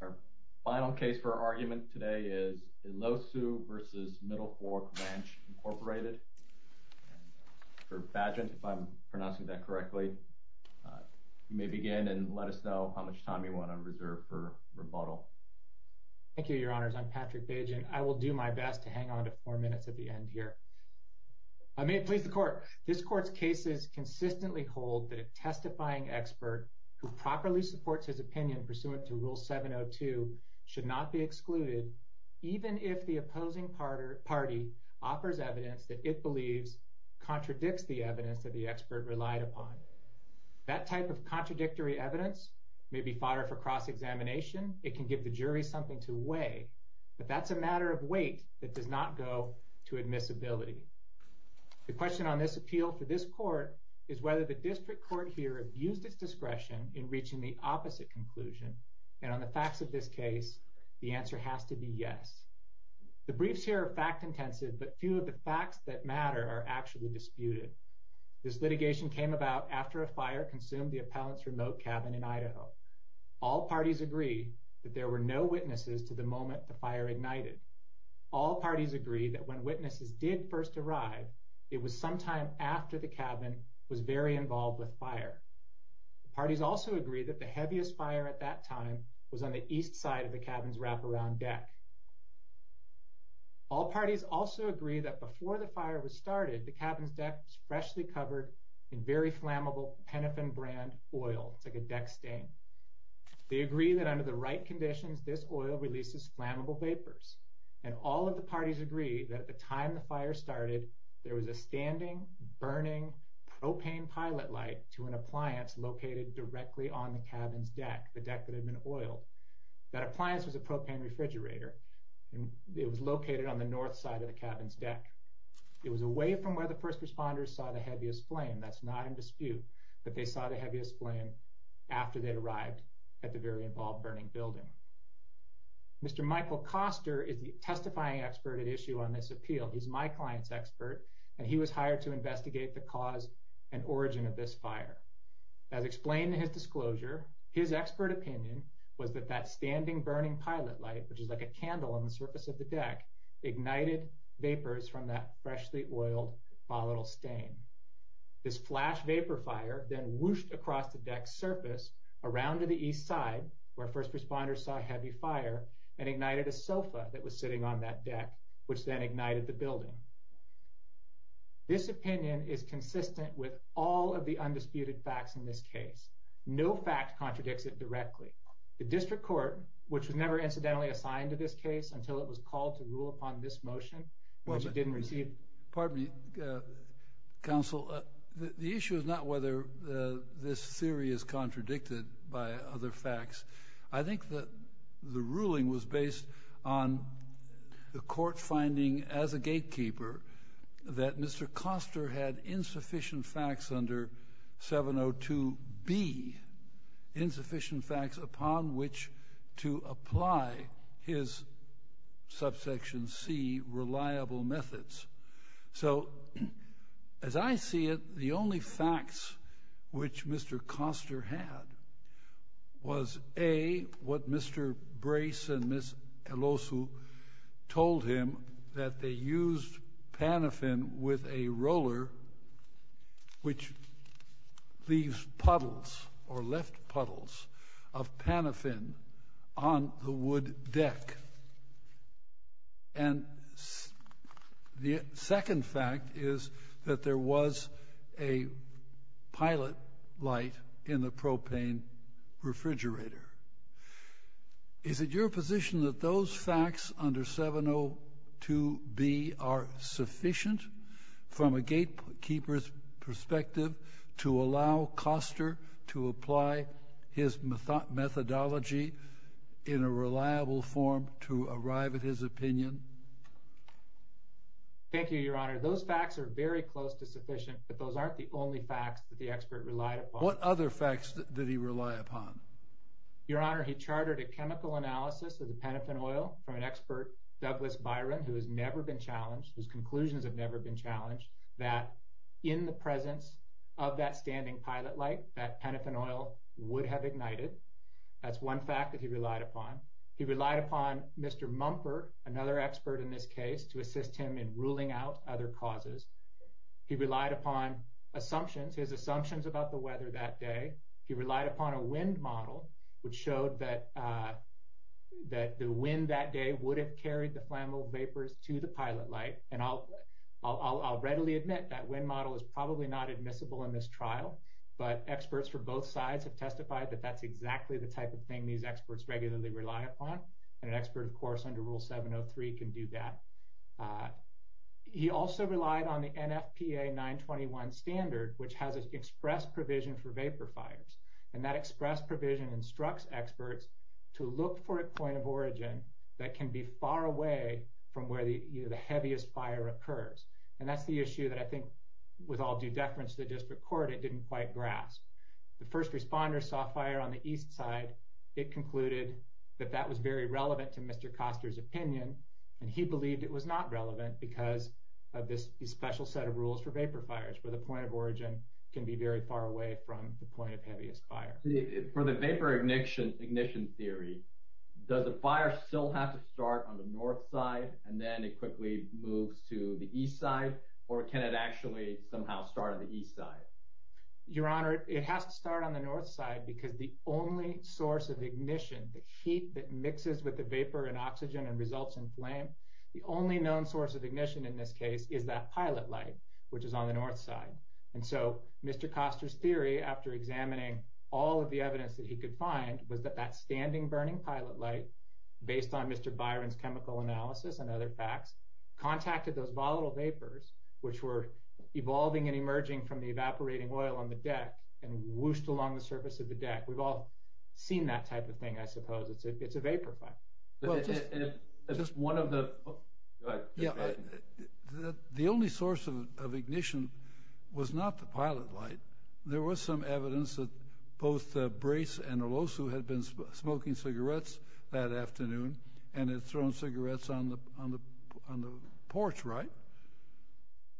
Our final case for argument today is Elosu v. Middlefork Ranch Incorporated. For Bajent, if I'm pronouncing that correctly, you may begin and let us know how much time you want on reserve for rebuttal. Thank you, your honors. I'm Patrick Bajent. I will do my best to hang on to four minutes at the end here. I may please the court. This court's cases consistently hold that a testifying expert who properly supports his opinion pursuant to Rule 702 should not be excluded, even if the opposing party offers evidence that it believes contradicts the evidence that the expert relied upon. That type of contradictory evidence may be fodder for cross examination. It can give the jury something to weigh, but that's a matter of weight that does not go to admissibility. The question on this appeal for this court is whether the district court here have used its conclusion, and on the facts of this case, the answer has to be yes. The briefs here are fact intensive, but few of the facts that matter are actually disputed. This litigation came about after a fire consumed the appellant's remote cabin in Idaho. All parties agree that there were no witnesses to the moment the fire ignited. All parties agree that when witnesses did first arrive, it was sometime after the cabin was very involved with fire. The parties also agree that the heaviest fire at that time was on the east side of the cabin's wraparound deck. All parties also agree that before the fire was started, the cabin's deck was freshly covered in very flammable Penofin brand oil. It's like a deck stain. They agree that under the right conditions, this oil releases flammable vapors, and all of the parties agree that at the time the fire started, there was a standing, burning propane pilot light to an appliance located directly on the cabin's deck, the deck that had been oiled. That appliance was a propane refrigerator. It was located on the north side of the cabin's deck. It was away from where the first responders saw the heaviest flame. That's not in dispute that they saw the heaviest flame after they'd arrived at the very involved burning building. Mr. Michael Koster is the testifying expert at issue on this appeal. He's my client's expert, and he was hired to investigate the cause and origin of this fire. As explained in his disclosure, his expert opinion was that that standing, burning pilot light, which is like a candle on the surface of the deck, ignited vapors from that freshly oiled volatile stain. This flash vapor fire then whooshed across the deck's surface around to the east side, where first responders saw heavy fire and ignited a sofa that was sitting on that deck, which then ignited the building. This opinion is consistent with all of the undisputed facts in this case. No fact contradicts it directly. The district court, which was never incidentally assigned to this case until it was called to rule upon this motion, which it didn't receive. Pardon me, counsel. The issue is not whether this theory is contradicted by other facts. I think that the ruling was based on the court finding as a gatekeeper that Mr. Koster had insufficient facts under 702 B, insufficient facts upon which to apply his subsection C reliable methods. So, as I see it, the only facts which Mr. Koster had was A, what Mr. Brace and Ms. Elosu told him, that they used panophen with a roller, which leaves puddles or left puddles of panophen on the wood deck. And the second fact is that there was a pilot light in the propane refrigerator. Is it your position that those facts under 702 B are sufficient from a gatekeeper's perspective to allow Koster to apply his methodology in a reliable form to arrive at his opinion? Thank you, Your Honor. Those facts are very close to sufficient, but those aren't the only facts that the expert relied upon. What other facts did he rely upon? Your Honor, he chartered a chemical analysis of the panophen oil from an expert, Douglas Byron, who has never been challenged, whose conclusions have never been challenged, that in the presence of that standing pilot light, that would have ignited. That's one fact that he relied upon. He relied upon Mr. Mumford, another expert in this case, to assist him in ruling out other causes. He relied upon assumptions, his assumptions about the weather that day. He relied upon a wind model, which showed that the wind that day would have carried the flammable vapors to the pilot light. And I'll readily admit, that wind model is probably not admissible in this trial, but experts from both sides have testified that that's exactly the type of thing these experts regularly rely upon. And an expert, of course, under Rule 703 can do that. He also relied on the NFPA 921 standard, which has an express provision for vapor fires. And that express provision instructs experts to look for a point of origin that can be far away from where the heaviest fire occurs. And that's the issue that I think, with all due deference to the district court, it didn't quite grasp. The first responder saw fire on the east side. It concluded that that was very relevant to Mr. Koster's opinion, and he believed it was not relevant because of this special set of rules for vapor fires, where the point of origin can be very far away from the point of heaviest fire. For the vapor ignition theory, does the fire still have to start on the north side, and then it quickly moves to the east side? Or can it actually somehow start on the east side? Your Honor, it has to start on the north side because the only source of ignition, the heat that mixes with the vapor and oxygen and results in flame, the only known source of ignition in this case is that pilot light, which is on the north side. And so Mr. Koster's theory, after examining all of the evidence that he could find, was that that standing burning pilot light, based on Mr. Byron's chemical analysis and other facts, contacted those volatile oil on the deck and whooshed along the surface of the deck. We've all seen that type of thing, I suppose. It's a vapor fire. The only source of ignition was not the pilot light. There was some evidence that both Brace and Olosu had been smoking cigarettes that afternoon and had thrown cigarettes on the porch, right?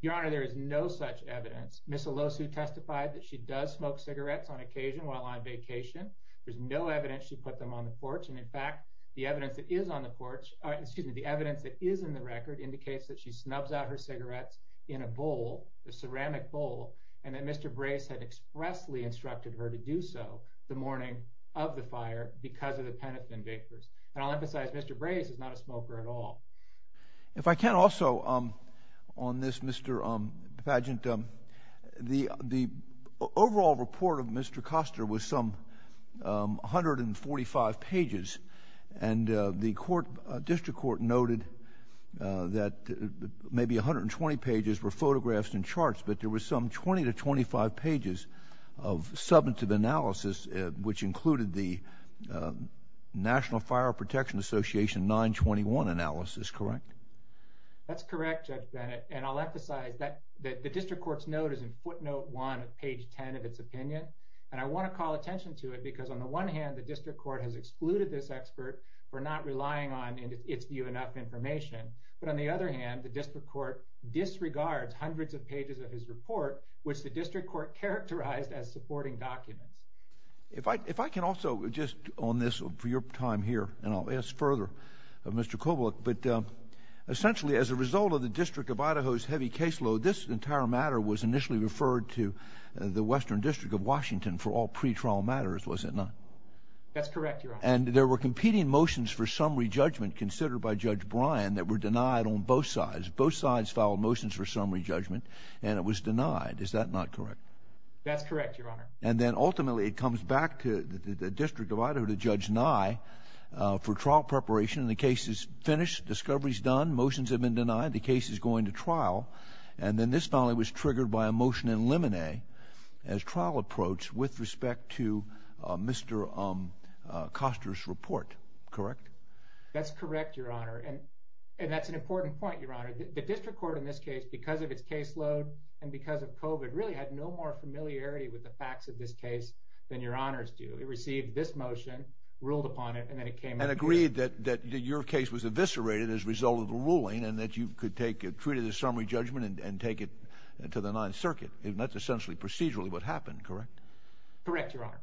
Your Honor, there is no such evidence. Ms. Olosu testified that she does smoke cigarettes on occasion while on vacation. There's no evidence she put them on the porch. And in fact, the evidence that is on the porch, excuse me, the evidence that is in the record indicates that she snubs out her cigarettes in a bowl, a ceramic bowl, and that Mr. Brace had expressly instructed her to do so the morning of the fire because of the penicillin vapors. And I'll emphasize Mr. Brace is not a smoker at all. If I can also, on this, Mr. Pageant, the overall report of Mr. Koster was some 145 pages, and the court, district court noted that maybe 120 pages were photographs and charts, but there was some 20 to 25 pages of substantive analysis, which included the National Fire Protection Association 921 analysis, correct? That's correct, Judge Bennett. And I'll emphasize that the district court's note is in footnote one of page 10 of its opinion. And I want to call attention to it because, on the one hand, the district court has excluded this expert for not relying on, in its view, enough information. But on the other hand, the district court disregards hundreds of pages of his report, which the district court characterized as supporting documents. If I can also, just on this for your time here, and essentially as a result of the District of Idaho's heavy caseload, this entire matter was initially referred to the Western District of Washington for all pre-trial matters, was it not? That's correct, Your Honor. And there were competing motions for summary judgment considered by Judge Bryan that were denied on both sides. Both sides filed motions for summary judgment, and it was denied. Is that not correct? That's correct, Your Honor. And then ultimately, it comes back to the District of Idaho to Judge Nye for trial preparation. And the case is finished. Discovery's done. Motions have been denied. The case is going to trial. And then this finally was triggered by a motion in limine as trial approach with respect to Mr. Costner's report. Correct? That's correct, Your Honor. And that's an important point, Your Honor. The district court in this case, because of its caseload and because of COVID, really had no more familiarity with the facts of this case than Your I read that your case was eviscerated as a result of the ruling and that you could take it, treat it as summary judgment, and take it to the Ninth Circuit. That's essentially procedurally what happened, correct? Correct, Your Honor.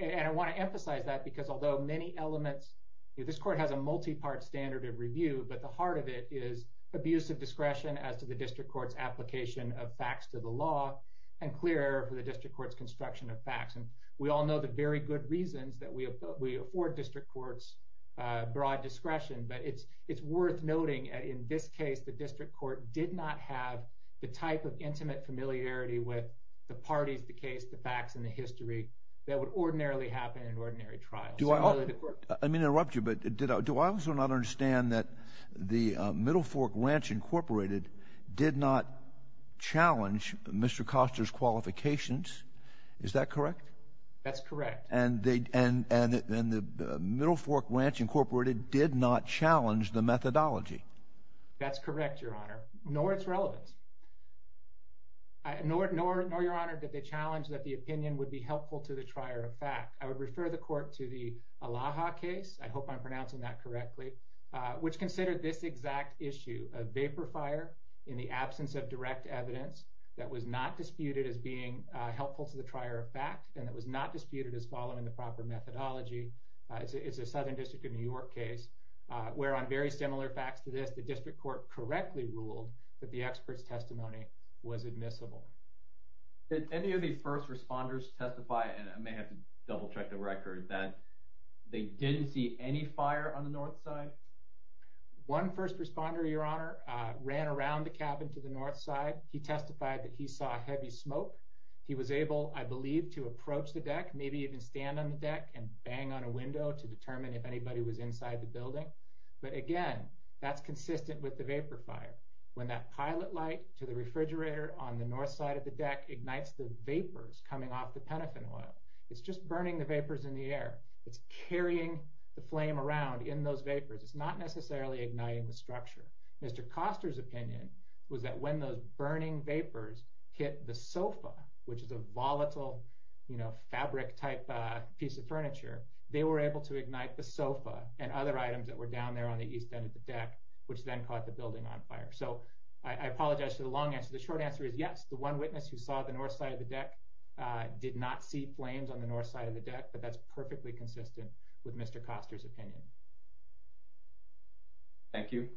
And I want to emphasize that because although many elements, this court has a multi-part standard of review, but the heart of it is abuse of discretion as to the district court's application of facts to the law and clear for the district court's construction of facts. And we all know the very good reasons that we have. We afford district court's broad discretion, but it's worth noting. In this case, the district court did not have the type of intimate familiarity with the parties, the case, the facts and the history that would ordinarily happen in ordinary trial. Do I mean interrupt you? But do I also not understand that the Middle Fork Ranch Incorporated did not challenge Mr Costner's qualifications? Is that correct? That's correct. And the Middle Fork Ranch Incorporated did not challenge the methodology. That's correct, Your Honor. Nor its relevance. Nor, Your Honor, did they challenge that the opinion would be helpful to the trier of fact. I would refer the court to the Alaha case, I hope I'm pronouncing that correctly, which considered this exact issue of vapor fire in the absence of direct evidence that was not disputed as being helpful to the trier of fact, and it was not disputed as following the proper methodology. It's a Southern District of New York case where, on very similar facts to this, the district court correctly ruled that the expert's testimony was admissible. Did any of the first responders testify? And I may have to double check the record that they didn't see any fire on the north side. One first responder, Your Honor, ran around the cabin to the north side. He testified that he saw heavy smoke. He was able, I believe, to approach the deck, maybe even stand on the deck and bang on a window to determine if anybody was inside the building. But again, that's consistent with the vapor fire. When that pilot light to the refrigerator on the north side of the deck ignites the vapors coming off the penicillin oil, it's just burning the vapors in the air. It's carrying the flame around in those vapors. It's not necessarily igniting the structure. Mr Costner's opinion was that when the burning vapors hit the sofa, which is a volatile, you know, fabric type piece of furniture, they were able to ignite the sofa and other items that were down there on the east end of the deck, which then caught the building on fire. So I apologize for the long answer. The short answer is yes. The one witness who saw the north side of the deck did not see flames on the north side of the deck, but that's perfectly consistent with Mr Costner's opinion. Thank you,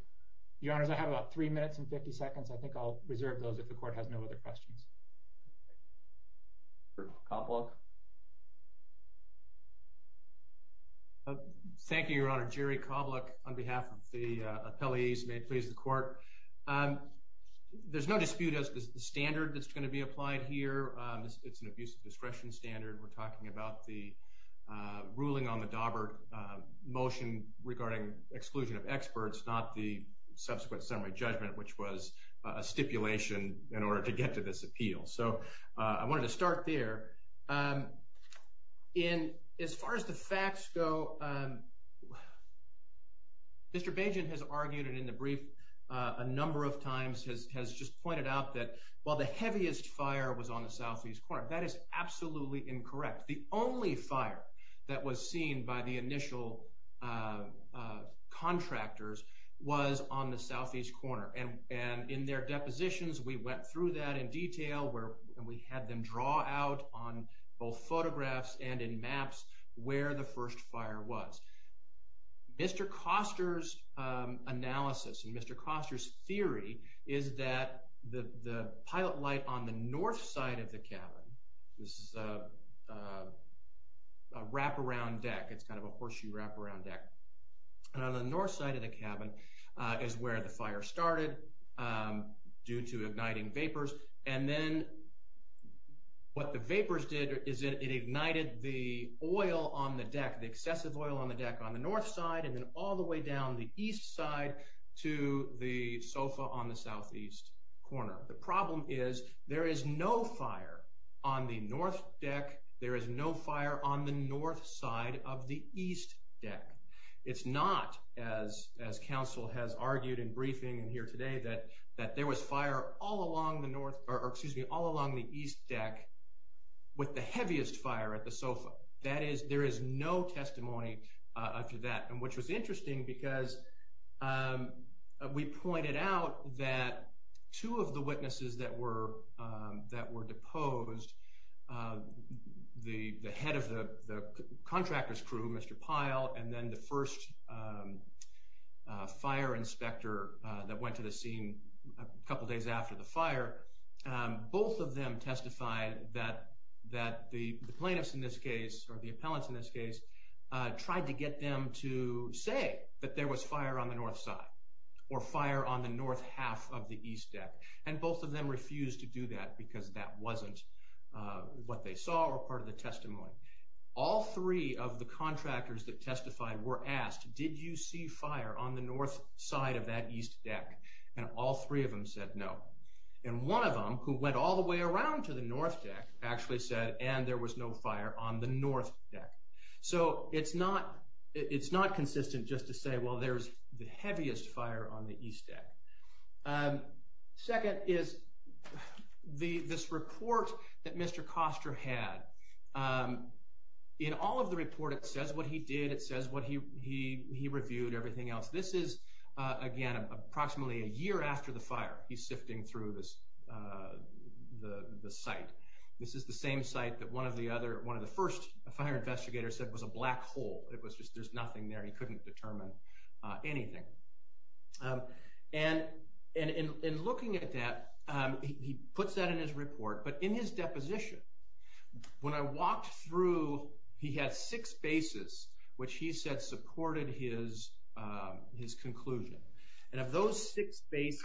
Your Honor. I have about three minutes and 50 seconds. I think I'll reserve those. If the court has no other questions, Cobbler. Thank you, Your Honor. Jerry Cobbler. On behalf of the appellees, may please the court. Um, there's no dispute as the standard that's going to be applied here. It's an abuse of discretion standard. We're talking about the ruling on the Daubert motion regarding exclusion of experts, not the subsequent summary judgment, which was a stipulation in order to get to this appeal. So I wanted to start there. Um, in as far as the facts go, um, Mr Bajan has argued in the brief a number of times has has just pointed out that while the heaviest fire was on the southeast corner, that is seen by the initial, uh, contractors was on the southeast corner and and in their depositions. We went through that in detail where we had them draw out on both photographs and in maps where the first fire was. Mr Costner's analysis and Mr Costner's theory is that the pilot light on the deck. It's kind of a horseshoe wraparound deck on the north side of the cabin is where the fire started due to igniting vapors. And then what the vapors did is it ignited the oil on the deck, the excessive oil on the deck on the north side and then all the way down the east side to the sofa on the southeast corner. The problem is there is no fire on the north deck. There is no fire on the north side of the east deck. It's not as as council has argued in briefing here today that that there was fire all along the north excuse me all along the east deck with the heaviest fire at the sofa. That is, there is no testimony after that, which was interesting because, um, we pointed out that two of the witnesses that were that were opposed, uh, the head of the contractor's crew, Mr Pyle and then the first, um, fire inspector that went to the scene a couple days after the fire. Both of them testified that that the plaintiffs in this case or the appellants in this case tried to get them to say that there was fire on the north side or fire on the north half of the east deck. And both of them refused to do that because that wasn't what they saw or part of the testimony. All three of the contractors that testified were asked, did you see fire on the north side of that east deck? And all three of them said no. And one of them who went all the way around to the north deck actually said, and there was no fire on the north deck. So it's not, it's not consistent just to say, well, there's the heaviest fire on the east deck. Um, second is the, this report that Mr Koster had, um, in all of the report, it says what he did. It says what he, he, he reviewed everything else. This is, uh, again, approximately a year after the fire. He's sifting through this, uh, the site. This is the same site that one of the other, one of the first fire investigators said was a black hole. It was just, there's no evidence to determine, uh, anything. Um, and, and in looking at that, um, he puts that in his report, but in his deposition, when I walked through, he had six bases, which he said supported his, um, his conclusion. And of those six bases,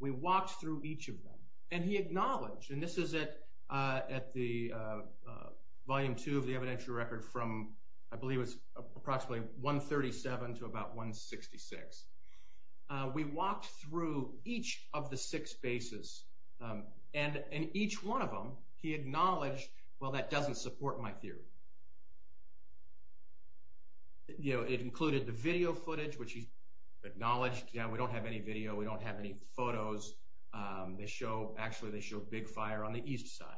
we walked through each of them and he acknowledged, and this is at, uh, at the, uh, uh, volume two of the evidentiary record from, I believe it was approximately 137 to about 166. Uh, we walked through each of the six bases, um, and, and each one of them, he acknowledged, well, that doesn't support my theory. You know, it included the video footage, which he acknowledged. Yeah, we don't have any video. We don't have any photos. Um, they show, actually, they show big fire on the east side.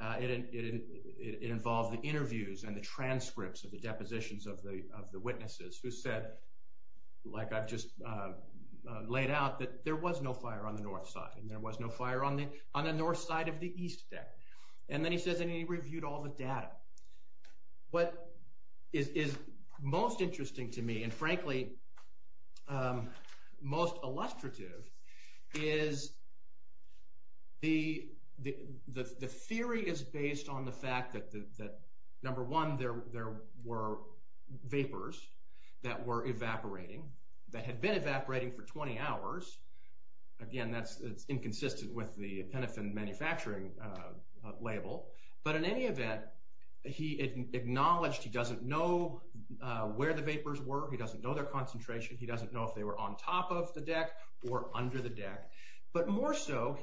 Uh, it, it, it, it involves the of the witnesses who said, like I've just, uh, laid out, that there was no fire on the north side and there was no fire on the, on the north side of the east deck. And then he says, and he reviewed all the data. What is, is most interesting to me and frankly, um, most illustrative is the, the, the, the vapors that were evaporating, that had been evaporating for 20 hours. Again, that's, it's inconsistent with the Penofin manufacturing, uh, label, but in any event, he acknowledged he doesn't know, uh, where the vapors were. He doesn't know their concentration. He doesn't know if they were on top of the deck or under the deck, but more so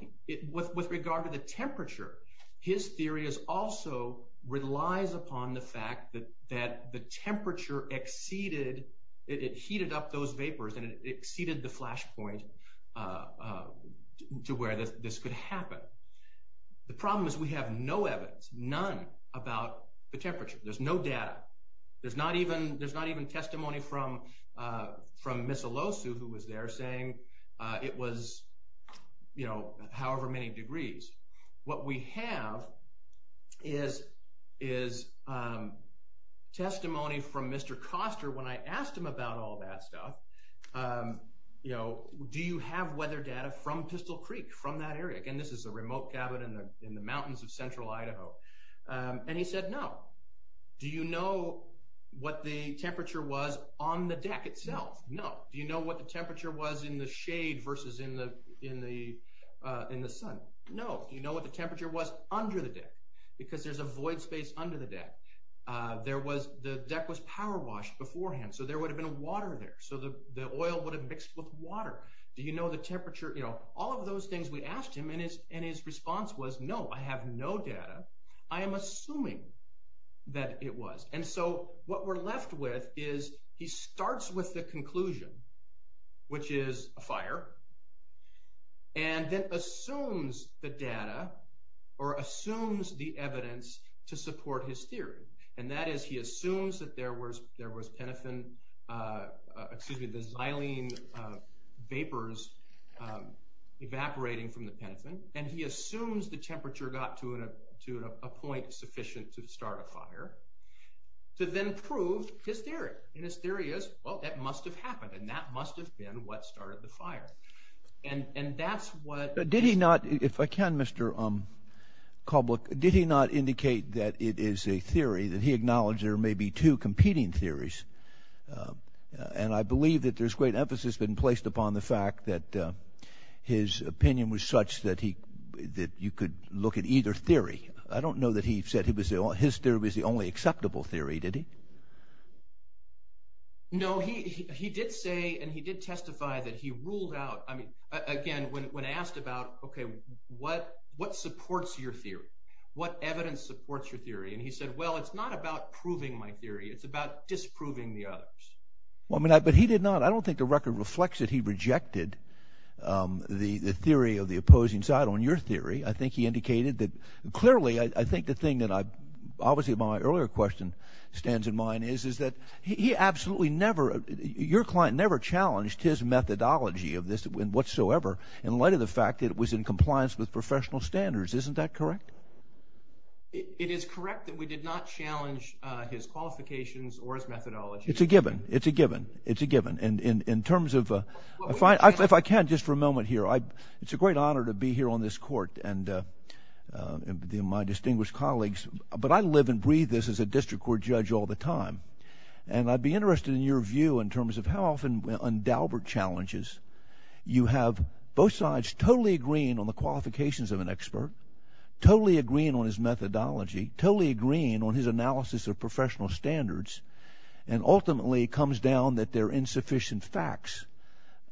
with, with regard to the temperature, his theory is also relies upon the fact that, that the temperature exceeded, it heated up those vapors and it exceeded the flashpoint, uh, uh, to where this could happen. The problem is we have no evidence, none about the temperature. There's no data. There's not even, there's not even testimony from, uh, from Miss Olosu who was there saying, uh, it was, you know, however many degrees. What we have is, is, um, testimony from Mr. Koster when I asked him about all that stuff. Um, you know, do you have weather data from Pistol Creek, from that area? Again, this is a remote cabin in the, in the mountains of central Idaho. Um, and he said, no. Do you know what the temperature was on the deck itself? No. Do you know what the temperature was in the shade versus in the, uh, in the sun? No. Do you know what the temperature was under the deck? Because there's a void space under the deck. Uh, there was, the deck was powerwashed beforehand, so there would have been a water there. So the, the oil would have mixed with water. Do you know the temperature? You know, all of those things we asked him and his, and his response was, no, I have no data. I am assuming that it was. And so what we're left with is he starts with the and then assumes the data or assumes the evidence to support his theory. And that is, he assumes that there was, there was penicillin, uh, excuse me, the xylene, uh, vapors, um, evaporating from the penicillin. And he assumes the temperature got to a, to a point sufficient to start a fire to then prove his theory. And his theory is, well, that must have happened. And that must have happened. And that's what. Did he not, if I can, Mr, um, Kobluk, did he not indicate that it is a theory that he acknowledged there may be two competing theories? Uh, and I believe that there's great emphasis been placed upon the fact that, uh, his opinion was such that he, that you could look at either theory. I don't know that he said he was the only, his theory was the only acceptable theory, did he? No, he, he did say, and he did testify that he when asked about, okay, what, what supports your theory? What evidence supports your theory? And he said, well, it's not about proving my theory. It's about disproving the others. Well, I mean, I, but he did not, I don't think the record reflects that he rejected, um, the, the theory of the opposing side on your theory. I think he indicated that clearly, I think the thing that I, obviously my earlier question stands in mind is, is that he absolutely never, your client never challenged his methodology of this whatsoever. And in light of the fact that it was in compliance with professional standards, isn't that correct? It is correct that we did not challenge, uh, his qualifications or his methodology. It's a given, it's a given, it's a given. And in, in terms of, uh, I find, if I can just for a moment here, I, it's a great honor to be here on this court and, uh, uh, the, my distinguished colleagues, but I live and breathe this as a district court judge all the time. And I'd be interested in your view in terms of how often on Dalbert challenges, you have both sides totally agreeing on the qualifications of an expert, totally agreeing on his methodology, totally agreeing on his analysis of professional standards and ultimately comes down that they're insufficient facts.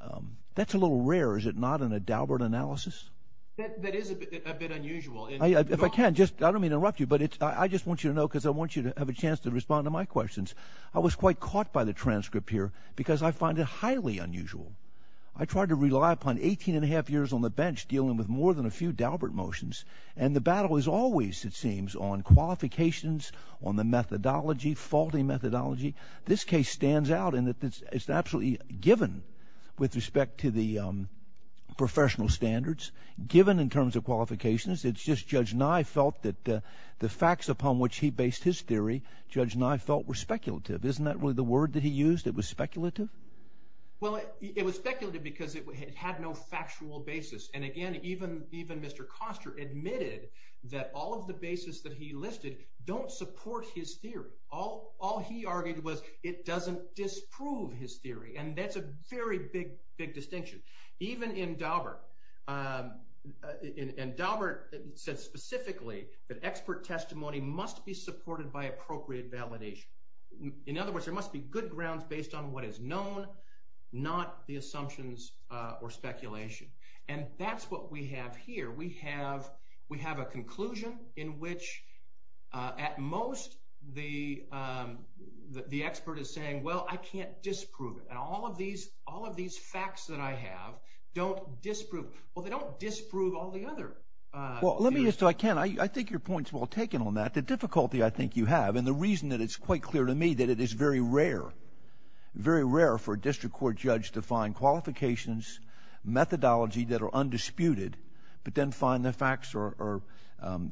Um, that's a little rare. Is it not in a Dalbert analysis? That is a bit unusual. If I can just, I don't mean to interrupt you, but it's, I just want you to know, cause I want you to have a chance to respond to my questions. I was quite caught by the transcript here because I find it highly unusual. I tried to rely upon 18 and a half years on the bench dealing with more than a few Dalbert motions. And the battle is always, it seems on qualifications, on the methodology, faulty methodology. This case stands out in that it's absolutely given with respect to the professional standards given in terms of qualifications. It's just judge Nye felt that the facts upon which he based his theory, judge Nye felt were speculative. Isn't that really the word that he used? It was speculative. Well, it was speculated because it had no factual basis. And again, even, even Mr. Koster admitted that all of the basis that he listed don't support his theory. All he argued was it doesn't disprove his theory. And that's a very big, big distinction, even in Dalbert. And Dalbert said specifically that expert testimony must be supported by appropriate validation. In other words, there must be good grounds based on what is known, not the assumptions or speculation. And that's what we have here. We have, we have a conclusion in which at most the, the expert is saying, well, I can't disprove it. And all of these, all of these facts that I have don't disprove, well, they don't disprove all the other. Well, let me just, I can't, I think your point's well taken on that. The difficulty I think you have, and the reason that it's quite clear to me that it is very rare, very rare for a district court judge to find qualifications, methodology that are undisputed, but then find the facts are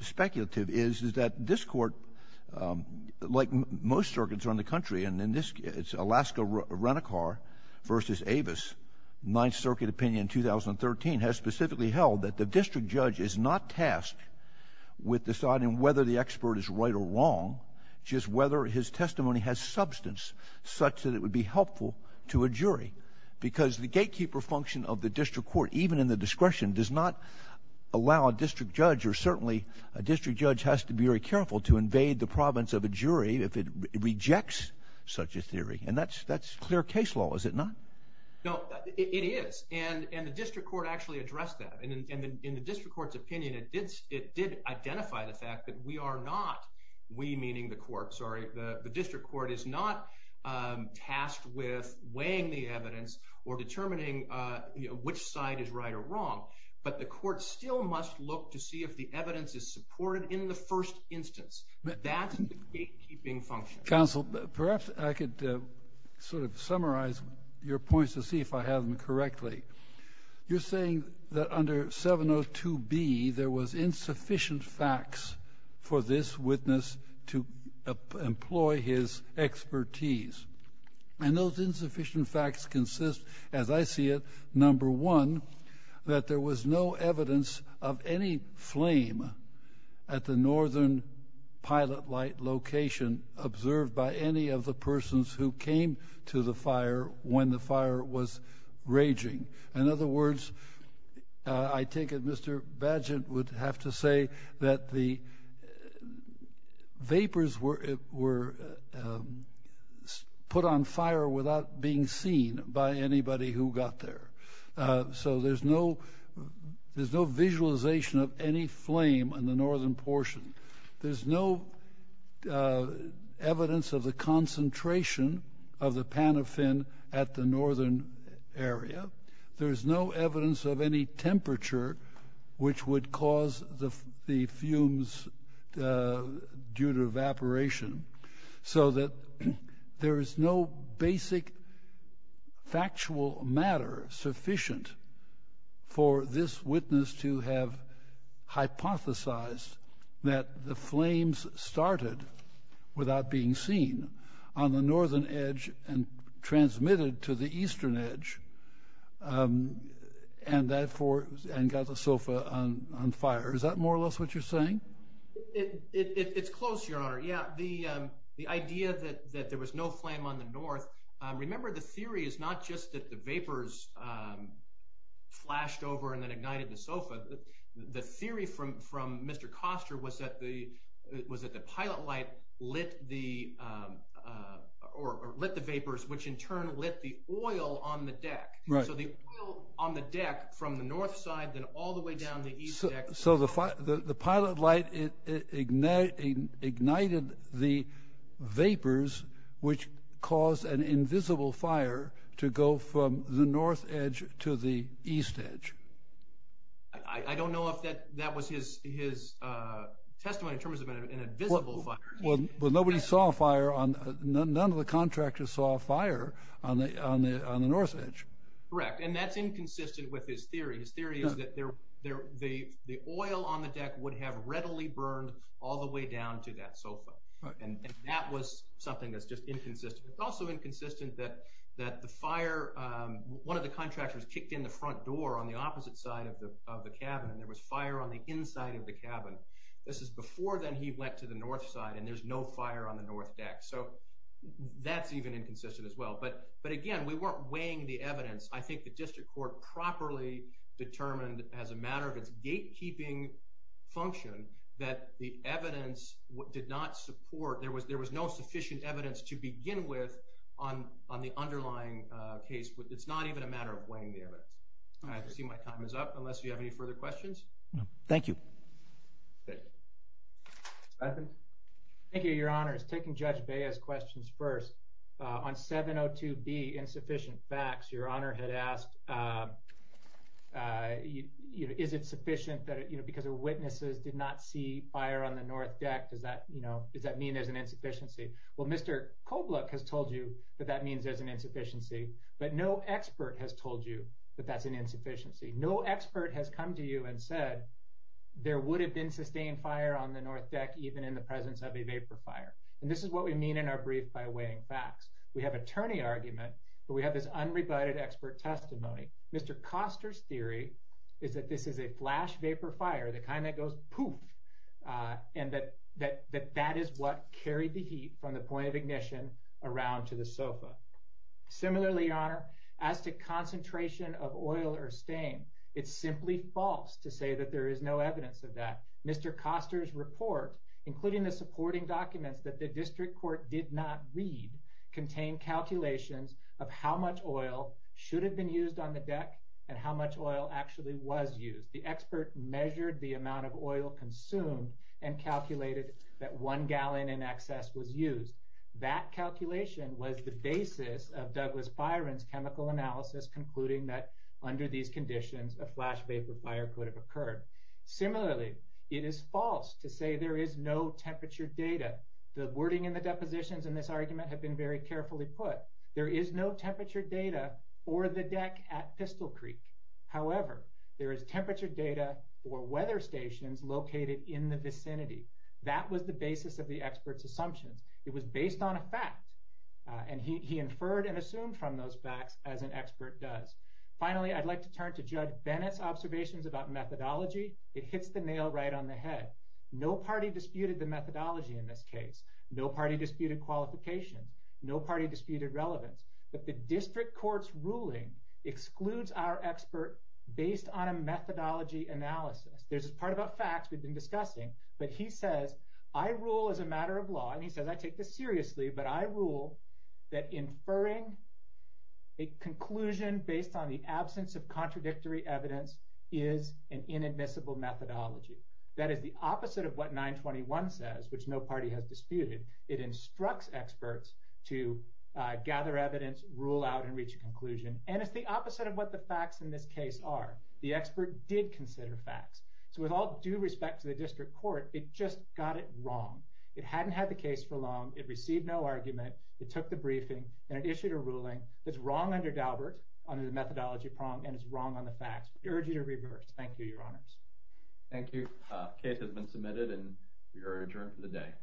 speculative is, is that this court, like most circuits around the country, and in this, it's Alaska Renicar versus Avis, Ninth Circuit opinion 2013, has specifically held that the district judge is not tasked with deciding whether the expert is right or wrong, just whether his testimony has substance such that it would be helpful to a jury. Because the gatekeeper function of the district court, even in the discretion, does not allow a district judge, or certainly a district judge has to be very careful to invade the province of a jury if it rejects such a theory. And that's, that's clear case law, is it not? No, it is. And, and the district court actually addressed that. And in the district court's opinion, it did, it did identify the fact that we are not, we meaning the court, sorry, the district court is not tasked with weighing the evidence or determining which side is right or wrong. But the court still must look to see if the evidence is supported in the first instance. That's the gatekeeping function. Counsel, perhaps I could sort of summarize your points to see if I have them correctly. You're saying that under 702B, there was insufficient facts for this witness to employ his expertise. And those insufficient facts consist, as I see it, number one, that there was no evidence of any flame at the northern pilot light location observed by any of the persons who came to the fire when the fire was raging. In other words, I take it Mr. Badgett would have to say that the vapors were, were put on fire without being seen by anybody who got there. So there's no, there's no visualization of any flame in the northern portion. There's no evidence of the concentration of the panofin at the northern area. There's no evidence of any temperature which would cause the fumes due to evaporation. So that there is no basic factual matter sufficient for this witness to have hypothesized that the flames started without being seen on the northern edge and transmitted to the eastern edge and therefore, and got the sofa on fire. Is that more or less what you're saying? It's close, Your Honor. Yeah, the idea that there was no flame on the north. Remember, the theory is not just that the vapors flashed over and then ignited the sofa. The theory from Mr. Koster was that the, was that the pilot light lit the, or lit the vapors, which in turn lit the oil on the deck. Right. So the oil on the deck from the north side then all the way down the east deck. So the pilot light ignited the vapors which caused an invisible fire to go from the north edge to the east edge. I don't know if that that was his testimony in terms of an Nobody saw a fire on, none of the contractors saw a fire on the north edge. Correct, and that's inconsistent with his theory. His theory is that there, the oil on the deck would have readily burned all the way down to that sofa. And that was something that's just inconsistent. It's also inconsistent that that the fire, one of the contractors kicked in the front door on the opposite side of the cabin and there was fire on the inside of the cabin. This is before he went to the north side and there's no fire on the north deck. So that's even inconsistent as well. But, but again, we weren't weighing the evidence. I think the district court properly determined as a matter of its gatekeeping function that the evidence did not support, there was, there was no sufficient evidence to begin with on, on the underlying case. It's not even a matter of weighing the evidence. I see my time is up unless you have any further questions. Thank you. Nothing. Thank you, Your Honors. Taking Judge Bea's questions first, on 702B insufficient facts, Your Honor had asked, uh, you know, is it sufficient that, you know, because the witnesses did not see fire on the north deck, does that, you know, does that mean there's an insufficiency? Well, Mr. Kobluk has told you that that means there's an insufficiency, but no expert has told you that that's an insufficiency. No expert has come to you and said there would have been sustained fire on the north deck even in the presence of a vapor fire. And this is what we mean in our brief by weighing facts. We have attorney argument, but we have this unrebutted expert testimony. Mr. Koster's theory is that this is a flash vapor fire, the kind that goes poof, uh, and that, that, that that is what carried the heat from the point of ignition around to the sofa. Similarly, Your Honor, as to concentration of oil or stain, it's simply false to say that there is no evidence of that. Mr. Koster's report, including the supporting documents that the district court did not read, contain calculations of how much oil should have been used on the deck and how much oil actually was used. The expert measured the amount of oil consumed and calculated that one gallon in excess was used. That calculation was the basis of Douglas Byron's chemical analysis, concluding that under these conditions, a flash vapor fire could have occurred. Similarly, it is false to say there is no temperature data. The wording in the depositions in this argument have been very carefully put. There is no temperature data or the deck at Pistol Creek. However, there is temperature data or weather stations located in the vicinity. That was the basis of the experts assumptions. It was based on a fact, and he inferred and assumed from those facts as an expert does. Finally, I'd like to turn to Judge Bennett's observations about methodology. It hits the nail right on the head. No party disputed the methodology in this case. No party disputed qualification. No party disputed relevance. But the district court's ruling excludes our expert based on a methodology analysis. There's a part about facts we've been discussing, but he says, I rule as a matter of law, and he says, I take this seriously, but I rule that inferring a conclusion based on the absence of contradictory evidence is an inadmissible methodology. That is the opposite of what 921 says, which no party has disputed. It instructs experts to gather evidence, rule out and reach a conclusion. And it's the opposite of what the facts in this case are. The expert did consider facts. So with all due respect to the district court, it just got it wrong. It hadn't had the case for long. It received no argument. It took the briefing and it issued a ruling that's wrong under Daubert, under the methodology prong, and it's wrong on the facts. We urge you to reverse. Thank you, Your Honors. Thank you. The case has been submitted and we are adjourned for the day.